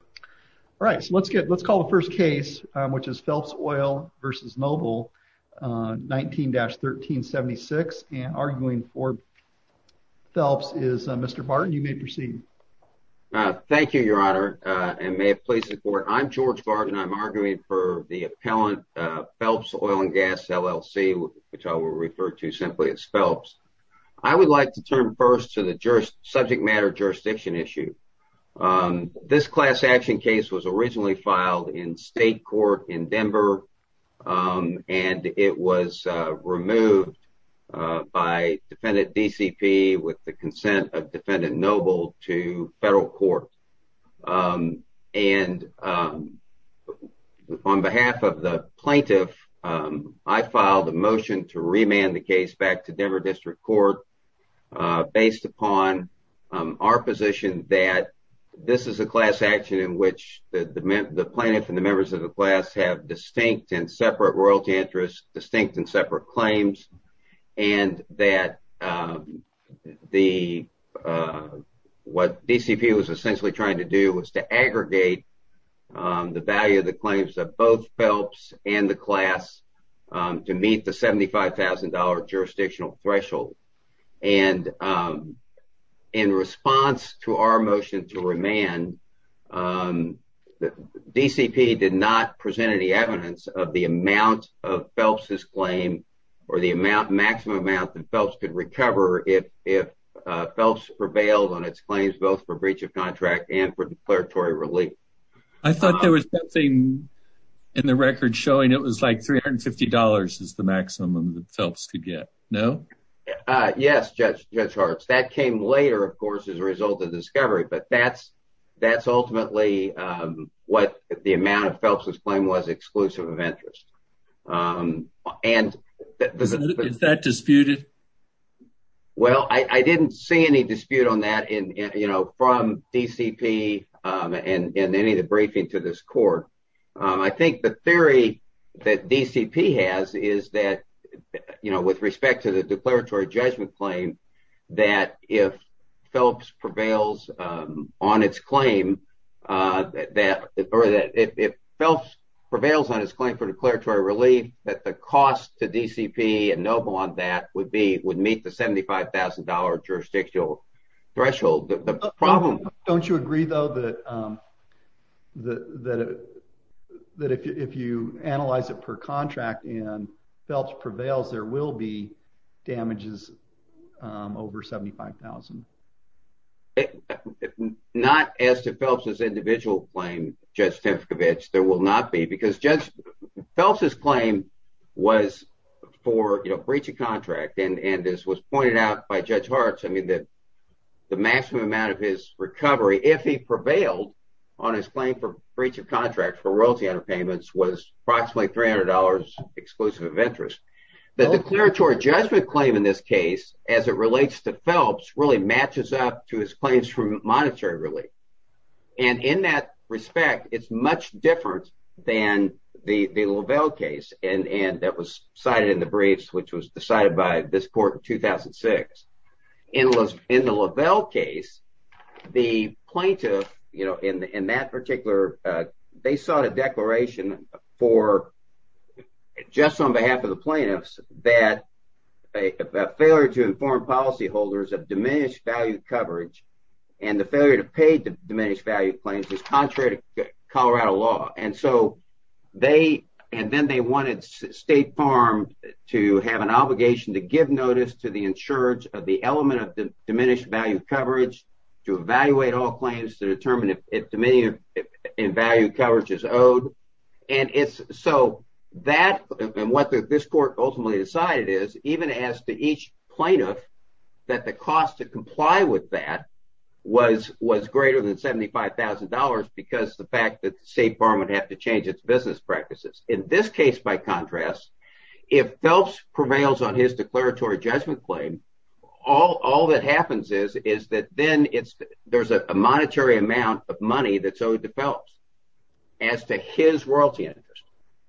all right so let's get let's call the first case which is Phelps Oil versus Noble 19-1376 and arguing for Phelps is Mr. Barton you may proceed thank you your honor and may it please the court I'm George Barton I'm arguing for the appellant Phelps Oil and Gas LLC which I will refer to simply as Phelps I would like to turn first to the jurist subject matter jurisdiction issue this class action case was originally filed in state court in Denver and it was removed by defendant DCP with the consent of defendant noble to federal court and on behalf of the plaintiff I filed a motion to remand the case back to Denver the plaintiff and the members of the class have distinct and separate royalty interest distinct and separate claims and that the what DCP was essentially trying to do was to aggregate the value of the claims of both Phelps and the class to meet the $75,000 jurisdictional threshold and in response to our motion to remand the DCP did not present any evidence of the amount of Phelps's claim or the amount maximum amount that Phelps could recover if Phelps prevailed on its claims both for breach of contract and for declaratory relief I thought there was nothing in the record showing it was like $350 is the maximum that Phelps could get no yes judge judge hearts that came later of course as a result of discovery but that's that's ultimately what the amount of Phelps's claim was exclusive of interest and that disputed well I didn't see any dispute on that in you know from DCP and in any of the briefing to this court I think the theory that DCP has is that you know with respect to the declaratory judgment claim that if Phelps prevails on its claim that or that if Phelps prevails on its claim for declaratory relief that the cost to DCP and no bond that would be would meet the $75,000 jurisdictional threshold the problem don't you agree though that that that if you analyze it per contract and Phelps prevails there will be damages over $75,000 not as to Phelps's individual claim just efficavage there will not be because just Phelps's claim was for you know breach of contract and and this was pointed out by judge hearts I mean that the maximum amount of his recovery if he prevailed on his claim for breach of contract for royalty under payments was approximately $300 exclusive of interest the declaratory judgment claim in this case as it relates to Phelps really matches up to his claims from monetary relief and in that respect it's much different than the the Lavelle case and and that was cited in the briefs which was decided by this court in 2006 in list in the Lavelle case the plaintiff you know in that particular they sought a declaration for just on behalf of the that a failure to inform policyholders of diminished value coverage and the failure to pay diminished value claims is contrary to Colorado law and so they and then they wanted state farm to have an obligation to give notice to the insurance of the element of the diminished value coverage to evaluate all claims to determine if Dominion in value coverage is owed and it's so that and what this court ultimately decided is even as to each plaintiff that the cost to comply with that was was greater than $75,000 because the fact that the State Farm would have to change its business practices in this case by contrast if Phelps prevails on his declaratory judgment claim all all that happens is is that then it's there's a monetary amount of money that so develops as to his royalty interest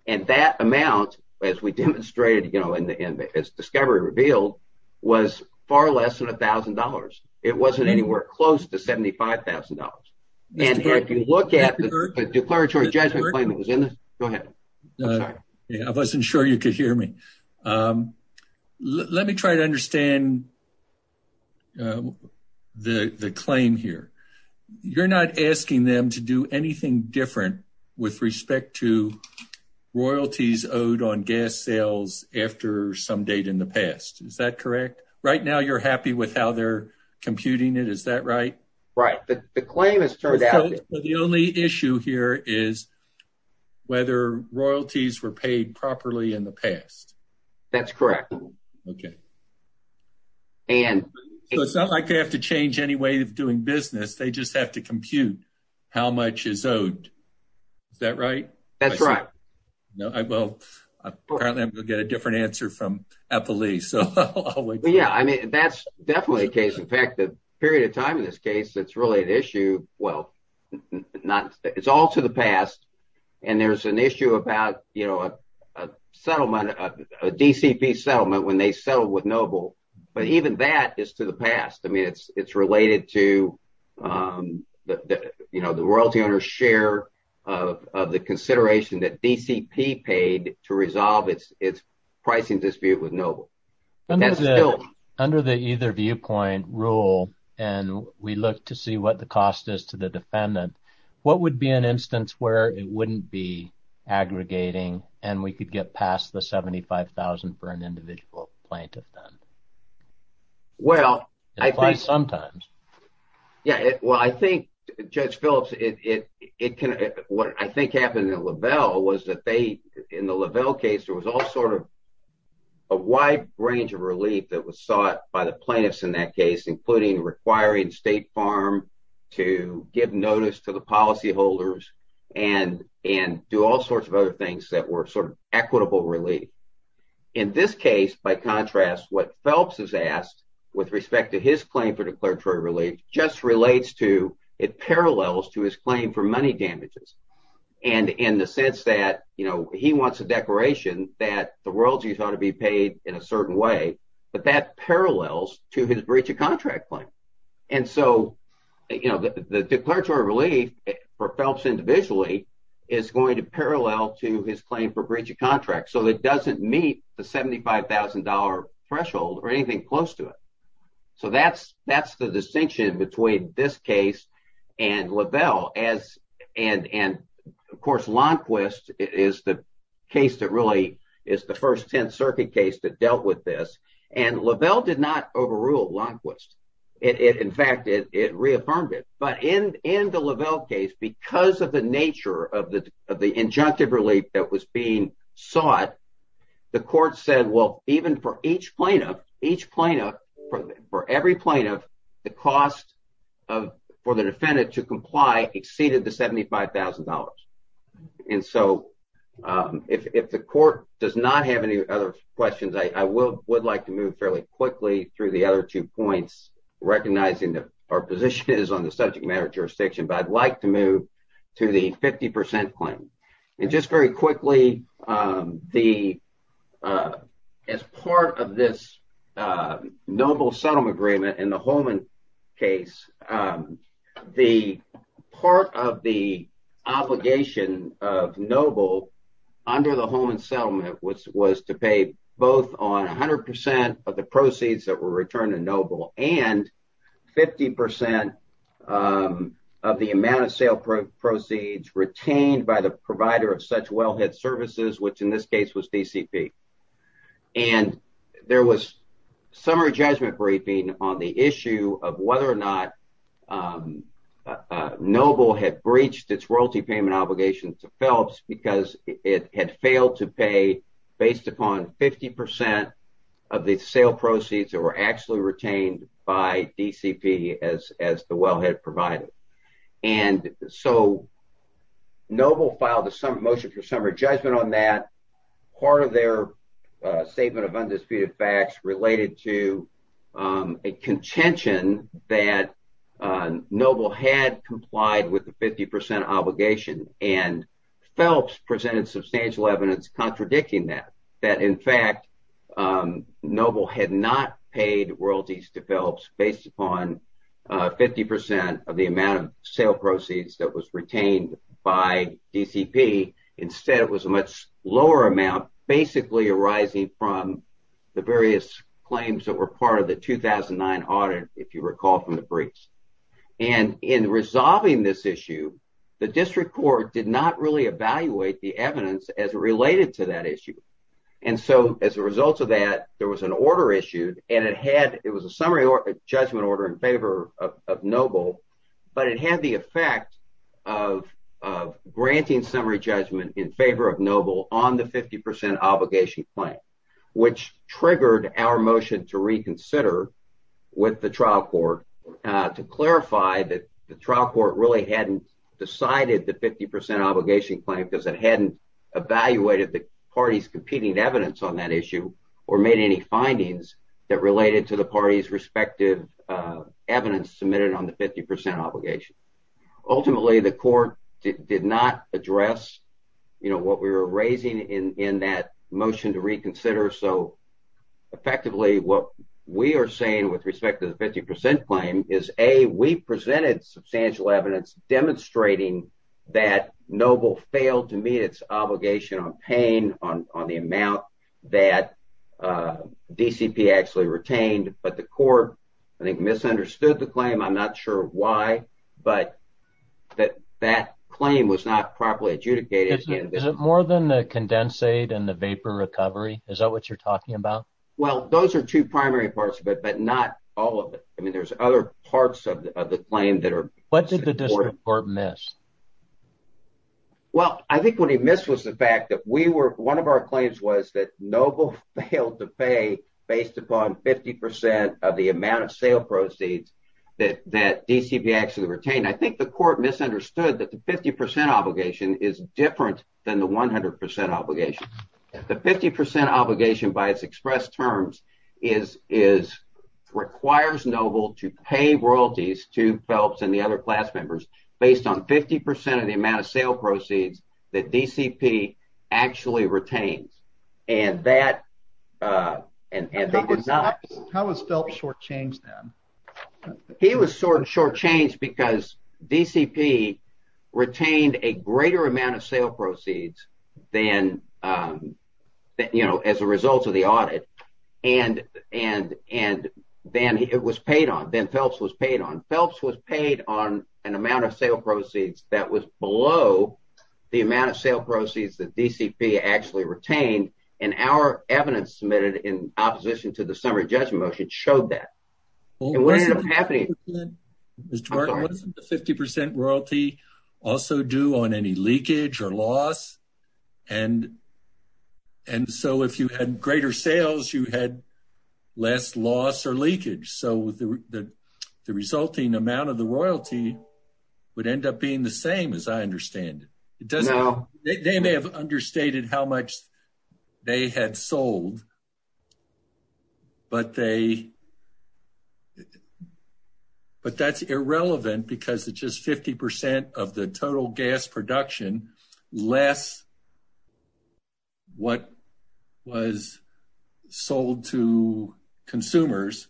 and that amount as we demonstrated you know in the end it's discovery revealed was far less than $1,000 it wasn't anywhere close to $75,000 and if you look at the declaratory judgment I wasn't sure you could hear me let me try to understand the the claim here you're not asking them to do anything different with respect to royalties owed on gas sales after some date in the past is that correct right now you're happy with how they're computing it is that right right but the claim has turned out the only issue here is whether royalties were paid properly in the past that's correct okay and it's not like they have to change any way of doing business they just have to compute how much is owed is that right that's right no I will apparently I'm gonna get a different answer from a police oh yeah I mean that's definitely a case in fact the period of time in this case that's really an issue well not it's all to the past and there's an issue about you know a settlement a DCP settlement when they settle with noble but even that is to the past I mean it's it's related to the you know the royalty owner's share of the consideration that DCP paid to resolve its its pricing dispute with noble under the either viewpoint rule and we look to see what the cost is to the defendant what would be an instance where it wouldn't be aggregating and we get past the 75,000 for an individual plaintiff done well I think sometimes yeah well I think judge Phillips it it can what I think happened in Lavelle was that they in the Lavelle case there was all sort of a wide range of relief that was sought by the plaintiffs in that case including requiring State Farm to give notice to the policyholders and and do all sorts of other things that were sort of equitable relief in this case by contrast what Phelps has asked with respect to his claim for declaratory relief just relates to it parallels to his claim for money damages and in the sense that you know he wants a declaration that the world's you thought to be paid in a certain way but that parallels to his breach of contract claim and so you know the declaratory relief for Phelps individually is going to parallel to his claim for breach of contract so it doesn't meet the $75,000 threshold or anything close to it so that's that's the distinction between this case and Lavelle as and and of course Lundquist is the case that really is the first Tenth Circuit case that dealt with this and Lavelle did not overrule Lundquist it in fact it reaffirmed it but in in the Lavelle case because of the nature of the of the injunctive relief that was being sought the court said well even for each plaintiff each plaintiff for every plaintiff the cost of for the defendant to comply exceeded the $75,000 and so if the court does not have any other questions I will would like to move fairly quickly through the other two points recognizing that our position is on the subject matter jurisdiction but I'd like to move to the 50% claim and just very quickly the as part of this noble settlement agreement in the Holman case the part of the obligation of noble under the Holman settlement which was to pay both on a hundred percent of the sale proceeds retained by the provider of such well-hit services which in this case was DCP and there was summary judgment briefing on the issue of whether or not noble had breached its royalty payment obligations to Phelps because it had failed to pay based upon 50% of the sale proceeds that were actually retained by DCP as as the well-head provided and so noble filed a motion for summary judgment on that part of their statement of undisputed facts related to a contention that noble had complied with the 50% obligation and Phelps presented substantial evidence contradicting that that in fact noble had not paid royalties to Phelps based upon 50% of the amount of sale proceeds that was retained by DCP instead it was a much lower amount basically arising from the various claims that were part of the 2009 audit if you recall from the briefs and in resolving this issue the district court did not really evaluate the evidence as related to that issue and so as a result of that there was an order issued and it had it was a summary or judgment order in favor of noble but it had the effect of granting summary judgment in favor of noble on the 50% obligation claim which triggered our motion to reconsider with the trial court to clarify that the trial court really hadn't decided the 50% obligation claim because it hadn't evaluated the party's competing evidence on that issue or made any findings that related to the party's respective evidence submitted on the 50% obligation ultimately the court did not address you know what we were raising in in that motion to reconsider so effectively what we are saying with respect to the 50% claim is a we presented substantial evidence demonstrating that noble failed to meet its obligation on paying on the amount that DCP actually retained but the court I think misunderstood the claim I'm not sure why but that that claim was not properly adjudicated is it more than the condensate and the vapor recovery is that what you're talking about well those are two primary parts of it but not all of it I mean there's other parts of the claim that are what did the district court miss well I think what he missed was the fact that we were one of our claims was that noble failed to pay based upon 50% of the amount of sale proceeds that that DCP actually retained I think the court misunderstood that the 50% obligation is different than the 100% obligation the 50% obligation by its express terms is is requires noble to pay royalties to Phelps and the other class members based on 50% of the amount of sale proceeds that DCP actually retains and that how was Phelps shortchanged then he was sort of shortchanged because DCP retained a greater amount of sale proceeds then that you know as a result of the audit and and and then it was paid on then Phelps was paid on Phelps was paid on an amount of sale proceeds that was below the amount of sale proceeds that DCP actually retained and our evidence submitted in opposition to the summary judgment motion showed that 50% royalty also do on any leakage or loss and and so if you had greater sales you had less loss or leakage so the the resulting amount of the royalty would end up being the same as I understand it it doesn't know they may have understated how much they had sold but they but that's irrelevant because it's just 50% of the total gas production less what was sold to consumers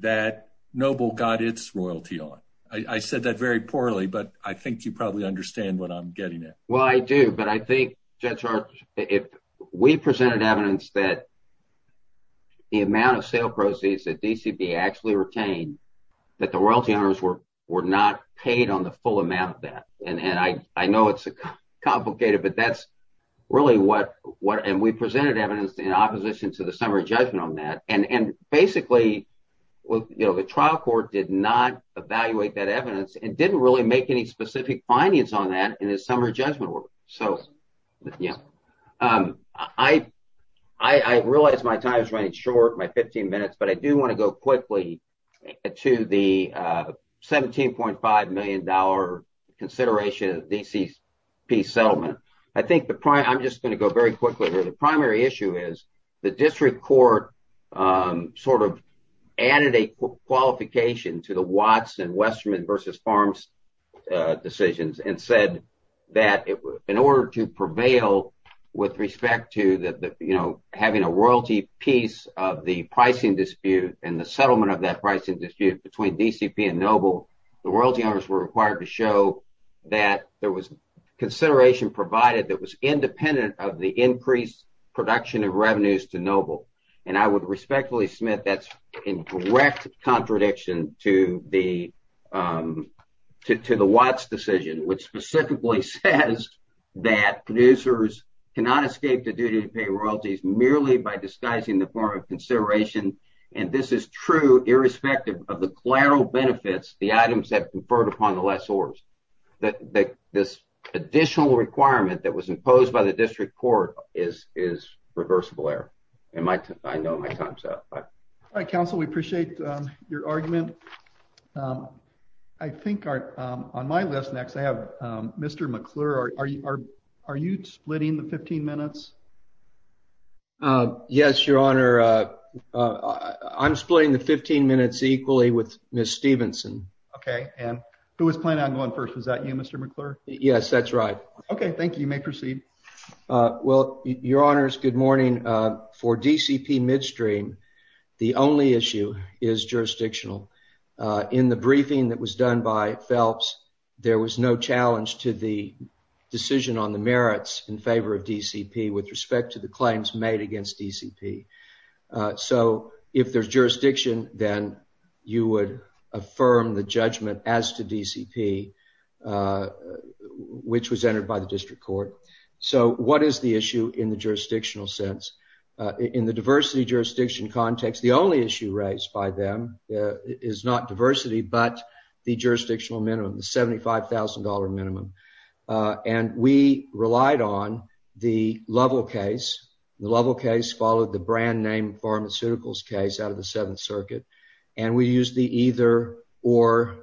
that noble got its royalty on I said that very poorly but I think you probably understand what I'm getting it well I do but I think if we presented evidence that the amount of sale proceeds that DCP actually retained that the royalty owners were were not paid on the full amount of that and and I know it's a complicated but that's really what what and we presented evidence in opposition to the summary judgment on that and and basically well you know the trial court did not evaluate that evidence and didn't really make any specific findings on that in his summary judgment work so yeah I I realize my time is running short my 15 minutes but I do want to go quickly to the 17.5 million dollar consideration DCP settlement I think the prime I'm just going to go very quickly there the primary issue is the district court sort of added a qualification to the Watts and Westerman versus farms decisions and said that in order to prevail with respect to that you know having a royalty piece of the pricing dispute and the settlement of that pricing dispute between DCP and noble the royalty owners were required to show that there was consideration provided that was independent of the increased production of revenues to noble and I would respectfully Smith that's in direct contradiction to the to the Watts decision which specifically says that producers cannot escape the duty to pay royalties merely by disguising the form of consideration and this is true irrespective of the collateral benefits the items that conferred upon the less oars that this additional requirement that was imposed by the district court is is reversible error and Mike I know my time so I counsel we appreciate your argument I think are on my list next I mr. McClure are you are are you splitting the 15 minutes yes your honor I'm splitting the 15 minutes equally with miss Stevenson okay and who is planning on going first was that you mr. McClure yes that's right okay thank you you may proceed well your honors good morning for DCP midstream the only issue is jurisdictional in the briefing that was to the decision on the merits in favor of DCP with respect to the claims made against DCP so if there's jurisdiction then you would affirm the judgment as to DCP which was entered by the district court so what is the issue in the jurisdictional sense in the diversity jurisdiction context the only issue raised by them is not diversity but the jurisdictional minimum the seventy five thousand dollar minimum and we relied on the level case the level case followed the brand-name pharmaceuticals case out of the Seventh Circuit and we use the either-or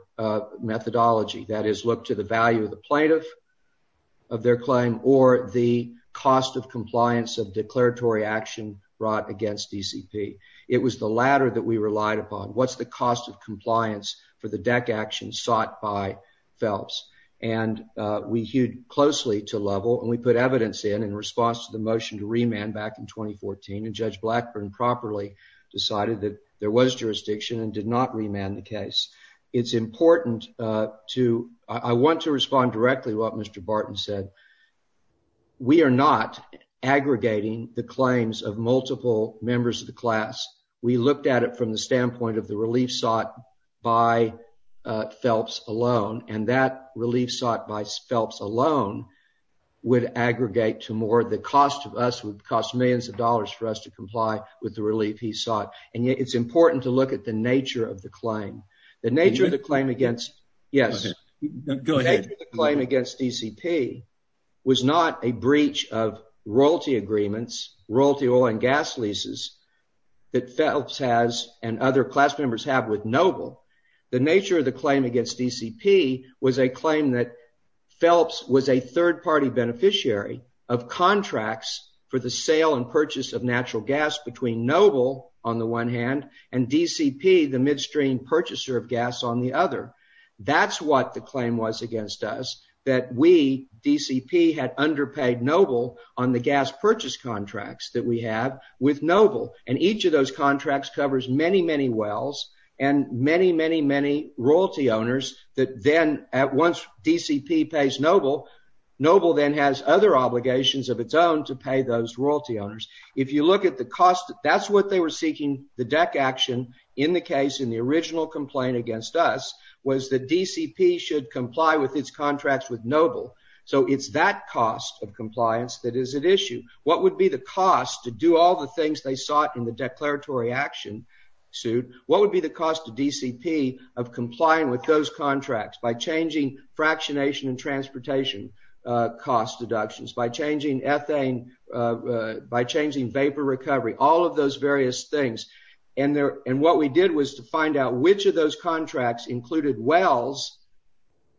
methodology that is look to the value of the plaintiff of their claim or the cost of compliance of declaratory action brought against DCP it was the latter that we relied upon what's the cost of compliance for the and we hewed closely to level and we put evidence in in response to the motion to remand back in 2014 and judge Blackburn properly decided that there was jurisdiction and did not remand the case it's important to I want to respond directly what mr. Barton said we are not aggregating the claims of multiple members of the class we looked at it from the standpoint of the relief sought by Phelps alone and that relief sought by Phelps alone would aggregate to more the cost of us would cost millions of dollars for us to comply with the relief he sought and yet it's important to look at the nature of the claim the nature of the claim against yes go ahead claim against DCP was not a breach of royalty agreements royalty oil and gas leases that Phelps has and other class members have with noble the nature of the claim against DCP was a claim that Phelps was a third-party beneficiary of contracts for the sale and purchase of natural gas between noble on the one hand and DCP the midstream purchaser of gas on the other that's what the claim was against us that we DCP had underpaid noble on the gas purchase contracts that we have with noble and each of those contracts covers many many wells and many many many royalty owners that then at once DCP pays noble noble then has other obligations of its own to pay those royalty owners if you look at the cost that's what they were seeking the deck action in the case in the original complaint against us was the DCP should comply with its contracts with noble so it's that cost of compliance that is at issue what would be the cost to do all the things they sought in the declaratory action suit what would be the cost of DCP of complying with those contracts by changing fractionation and transportation cost deductions by changing ethane by changing vapor recovery all of those various things and there and what we did was to find out which of those contracts included wells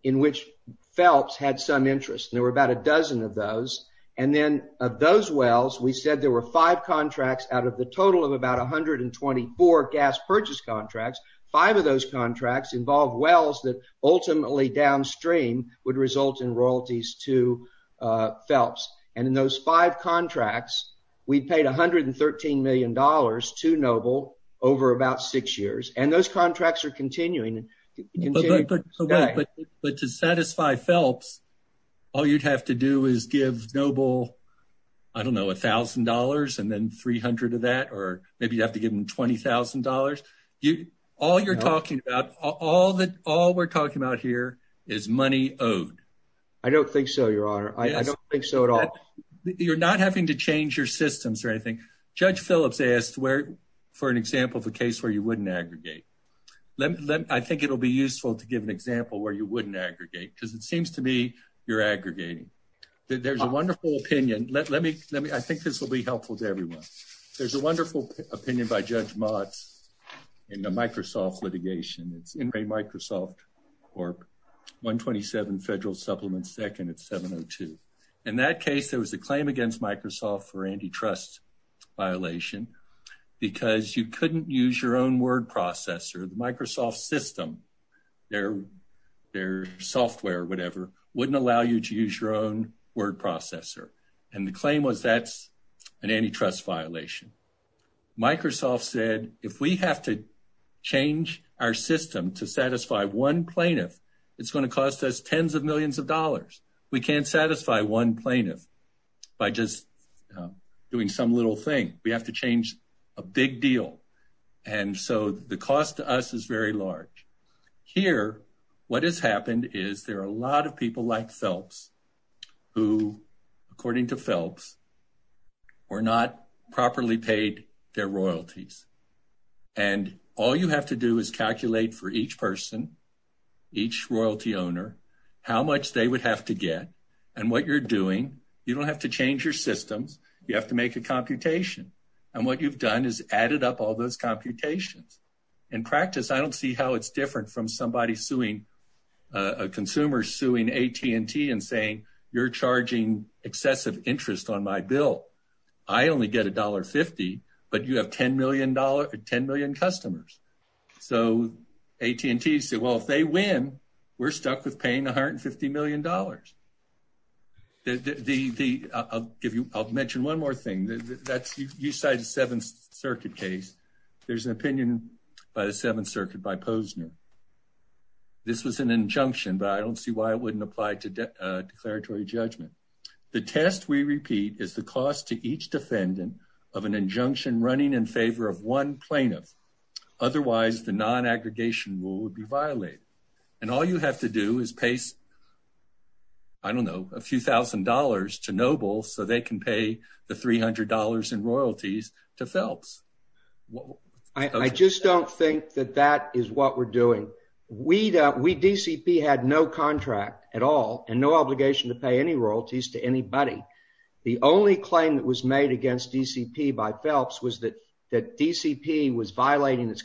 in which Phelps had some interest there were about a dozen of those and then of wells we said there were five contracts out of the total of about a hundred and twenty four gas purchase contracts five of those contracts involved wells that ultimately downstream would result in royalties to Phelps and in those five contracts we paid a hundred and thirteen million dollars to noble over about six years and those contracts are continuing but to satisfy Phelps all you'd have to do is give noble I don't know $1,000 and then 300 of that or maybe you have to give them $20,000 you all you're talking about all that all we're talking about here is money owed I don't think so your honor I don't think so at all you're not having to change your systems or anything judge Phillips asked where for an example of a case where you wouldn't aggregate let me I think it'll be useful to give an example where you wouldn't aggregate because it seems to me you're aggregating that there's a wonderful opinion let let me let me I think this will be helpful to everyone there's a wonderful opinion by judge Mott's in the Microsoft litigation it's in a Microsoft or 127 federal supplement second at 702 in that case there was a claim against Microsoft for antitrust violation because you couldn't use your own word processor the Microsoft system there software whatever wouldn't allow you to use your own word processor and the claim was that's an antitrust violation Microsoft said if we have to change our system to satisfy one plaintiff it's going to cost us tens of millions of dollars we can't satisfy one plaintiff by just doing some little thing we have to change a big deal and so the cost to us is very large here what has happened is there are a lot of people like Phelps who according to Phelps or not properly paid their royalties and all you have to do is calculate for each person each royalty owner how much they would have to get and what you're doing you don't have to change your systems you have to make a computation and what you've done is added up all those computations in practice I don't see how it's different from somebody suing a consumer suing AT&T and saying you're charging excessive interest on my bill I only get a dollar fifty but you have ten million dollar ten million customers so AT&T say well if they win we're stuck with paying 150 million dollars the the I'll give you I'll mention one more thing that's you cited Seventh Circuit case there's an opinion by the Seventh Circuit by Posner this was an injunction but I don't see why it wouldn't apply to declaratory judgment the test we repeat is the cost to each defendant of an injunction running in favor of one plaintiff otherwise the non-aggregation rule would be violated and all you have to do is pace I don't know a few thousand dollars to noble so they can pay the $300 in royalties to Phelps well I just don't think that that is what we're doing we don't we DCP had no contract at all and no obligation to pay any royalties to anybody the only claim that was made against DCP by Phelps was that that DCP was violating its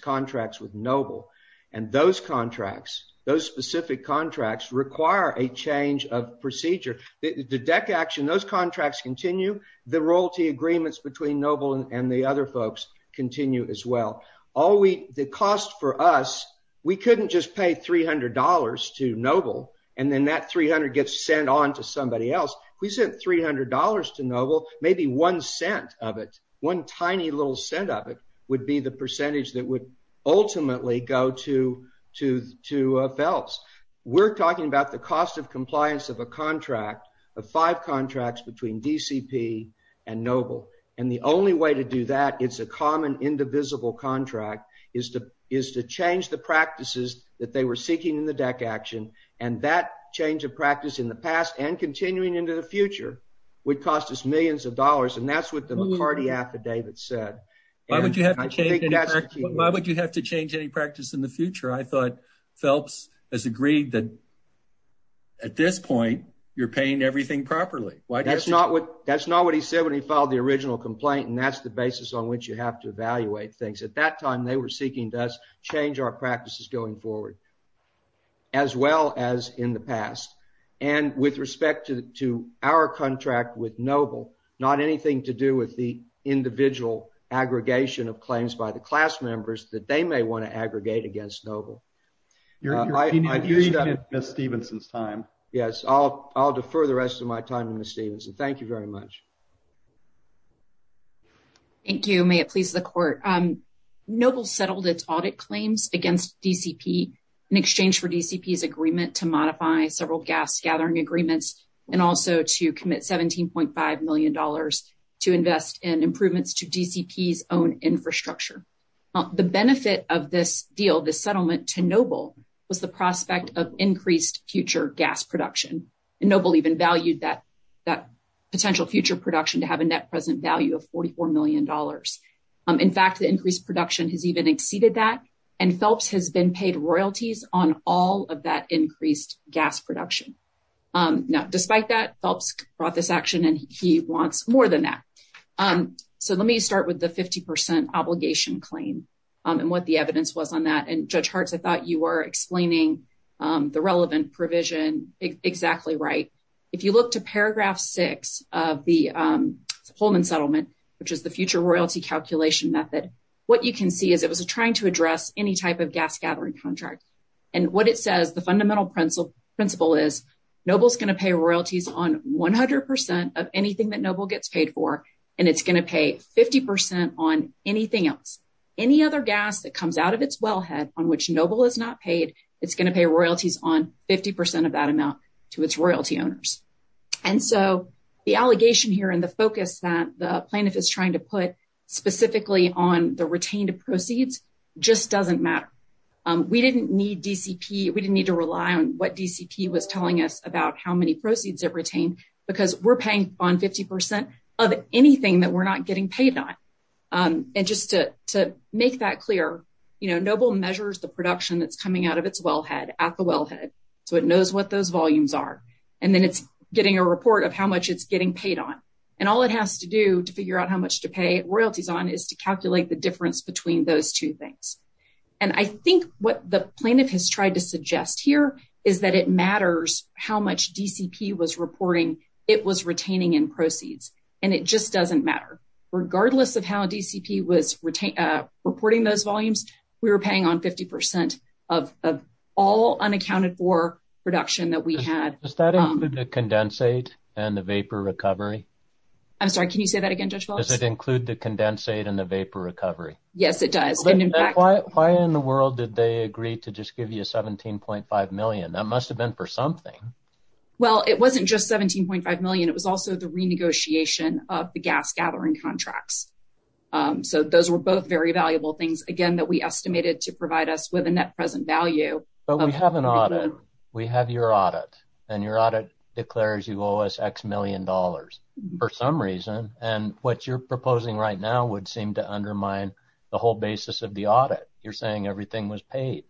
with noble and those contracts those specific contracts require a change of procedure the deck action those contracts continue the royalty agreements between noble and the other folks continue as well all we the cost for us we couldn't just pay $300 to noble and then that 300 gets sent on to somebody else we sent $300 to noble maybe one cent of it one tiny little cent of it would be the percentage that would ultimately go to to to Phelps we're talking about the cost of compliance of a contract of five contracts between DCP and noble and the only way to do that it's a common indivisible contract is to is to change the practices that they were seeking in the deck action and that change of practice in the past and continuing into the future would cost us millions of dollars and that's what the McCarty affidavit said why would you have to change any practice in the future I thought Phelps has agreed that at this point you're paying everything properly why that's not what that's not what he said when he filed the original complaint and that's the basis on which you have to evaluate things at that time they were seeking to us change our practices going forward as well as in the past and with respect to our contract with noble not anything to do with the individual aggregation of claims by the class members that they may want to aggregate against noble you're right I do you miss Stevenson's time yes I'll defer the rest of my time in the Stevenson thank you very much thank you may it please the court um noble settled its audit claims against DCP in exchange for DCP's agreement to modify several gas gathering agreements and also to commit 17.5 million dollars to invest in improvements to DCP's own infrastructure the benefit of this deal the settlement to noble was the prospect of increased future gas production and noble even valued that that potential future production to have a net present value of 44 million dollars in fact the increased production has even exceeded that and Phelps has been paid royalties on all of that increased gas production now despite that Phelps brought this action and he wants more than that so let me start with the 50% obligation claim and what the evidence was on that and judge hearts I thought you were explaining the relevant provision exactly right if you look to paragraph six of the Pullman settlement which is the future royalty calculation method what you can see is it was a trying to address any type of gas gathering contract and what it says the fundamental principle principle is nobles going to pay royalties on 100% of anything that noble gets paid for and it's going to pay 50% on anything else any other gas that comes out of its wellhead on which noble is not paid it's going to pay royalties on 50% of that amount to its royalty owners and so the allegation here and the focus that the plaintiff is trying to put specifically on the retained proceeds just doesn't matter we didn't need DCP we didn't need to rely on what DCP was telling us about how many proceeds have retained because we're paying on 50% of anything that we're not getting paid on and just to make that clear you know noble measures the production that's coming out of its wellhead at the wellhead so it knows what those volumes are and then it's getting a report of how much it's getting paid on and all it has to do to figure out how much to pay royalties on is to calculate the difference between those two things and I think what the plaintiff has tried to suggest here is that it matters how much DCP was reporting it was retaining in proceeds and it just doesn't matter regardless of how DCP was retain reporting those volumes we were paying on 50% of all unaccounted for production that we had the condensate and the vapor recovery I'm sorry can you say that again does it include the condensate and the vapor recovery yes it does and in fact why in the world did they agree to just give you a 17.5 million that must have been for something well it wasn't just 17.5 million it was also the renegotiation of the gas gathering contracts so those were both very valuable things again that we estimated to provide us with a net present value but we have an audit we have your audit and your audit declares you owe us X million dollars for some reason and what you're proposing right now would seem to undermine the whole basis of the audit you're saying everything was paid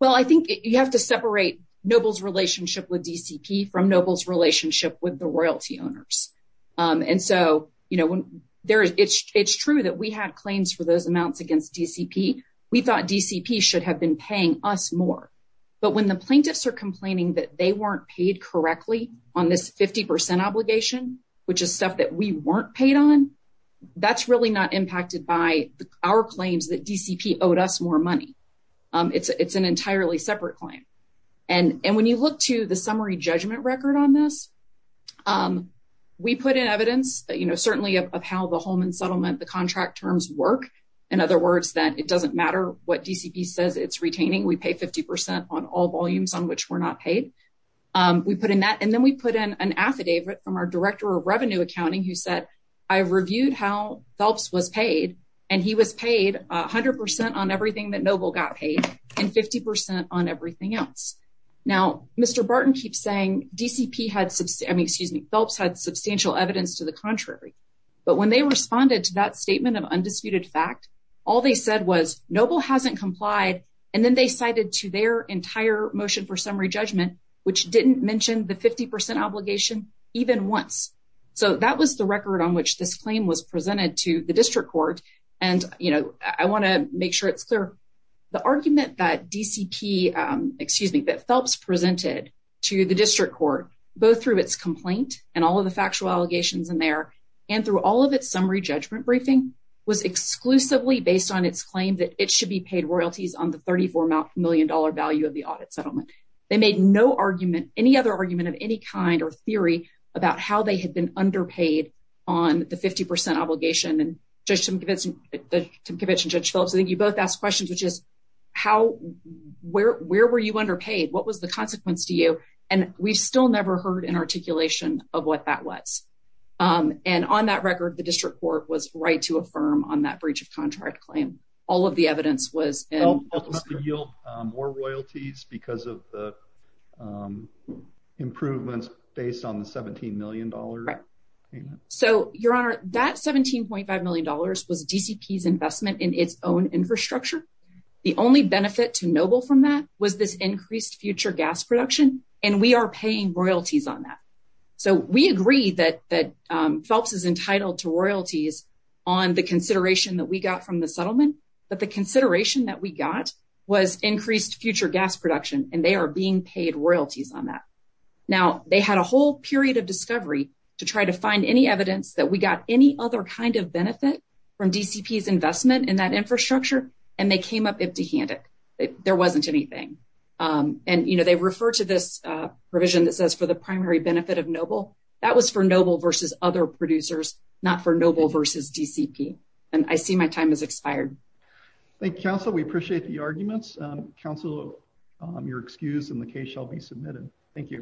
well I think you have to separate Nobles relationship with DCP from Nobles relationship with the royalty owners and so you know when there is it's it's true that we had claims for those amounts against DCP we thought DCP should have been paying us more but when the DCP paid correctly on this 50% obligation which is stuff that we weren't paid on that's really not impacted by our claims that DCP owed us more money it's it's an entirely separate claim and and when you look to the summary judgment record on this we put in evidence you know certainly of how the Holman settlement the contract terms work in other words that it doesn't matter what DCP says it's retaining we pay 50% on all volumes on which we're not paid we put in that and then we put in an affidavit from our director of revenue accounting who said I've reviewed how Phelps was paid and he was paid a hundred percent on everything that noble got paid and 50% on everything else now mr. Barton keeps saying DCP had subsemi excuse me Phelps had substantial evidence to the contrary but when they responded to that statement of undisputed fact all they said was noble hasn't complied and then they cited to their entire motion for summary judgment which didn't mention the 50% obligation even once so that was the record on which this claim was presented to the district court and you know I want to make sure it's clear the argument that DCP excuse me that Phelps presented to the district court both through its complaint and all of the factual allegations in there and through all of its summary judgment briefing was exclusively based on its claim that it should be paid royalties on the 34 million dollar value of the audit settlement they made no argument any other argument of any kind or theory about how they had been underpaid on the 50% obligation and just some convincing the conviction judge Phillips I think you both asked questions which is how where where were you underpaid what was the consequence to you and we've still never heard an articulation of what that was and on that record the district court was right to affirm on that breach of contract claim all of the evidence was royalties because of the improvements based on the 17 million dollars so your honor that 17.5 million dollars was DCPs investment in its own infrastructure the only benefit to noble from that was this increased future gas production and we are paying royalties on that so we agree that that Phelps is entitled to royalties on the consideration that we got from the settlement but the consideration that we got was increased future gas production and they are being paid royalties on that now they had a whole period of discovery to try to find any evidence that we got any other kind of benefit from DCPs investment in that infrastructure and they came up empty-handed there wasn't anything and you know they refer to this provision that says for the primary benefit of noble that was for noble versus other producers not for noble versus DCP and I see my time has expired Thank You counsel we appreciate the arguments counsel your excuse in the case shall be submitted thank you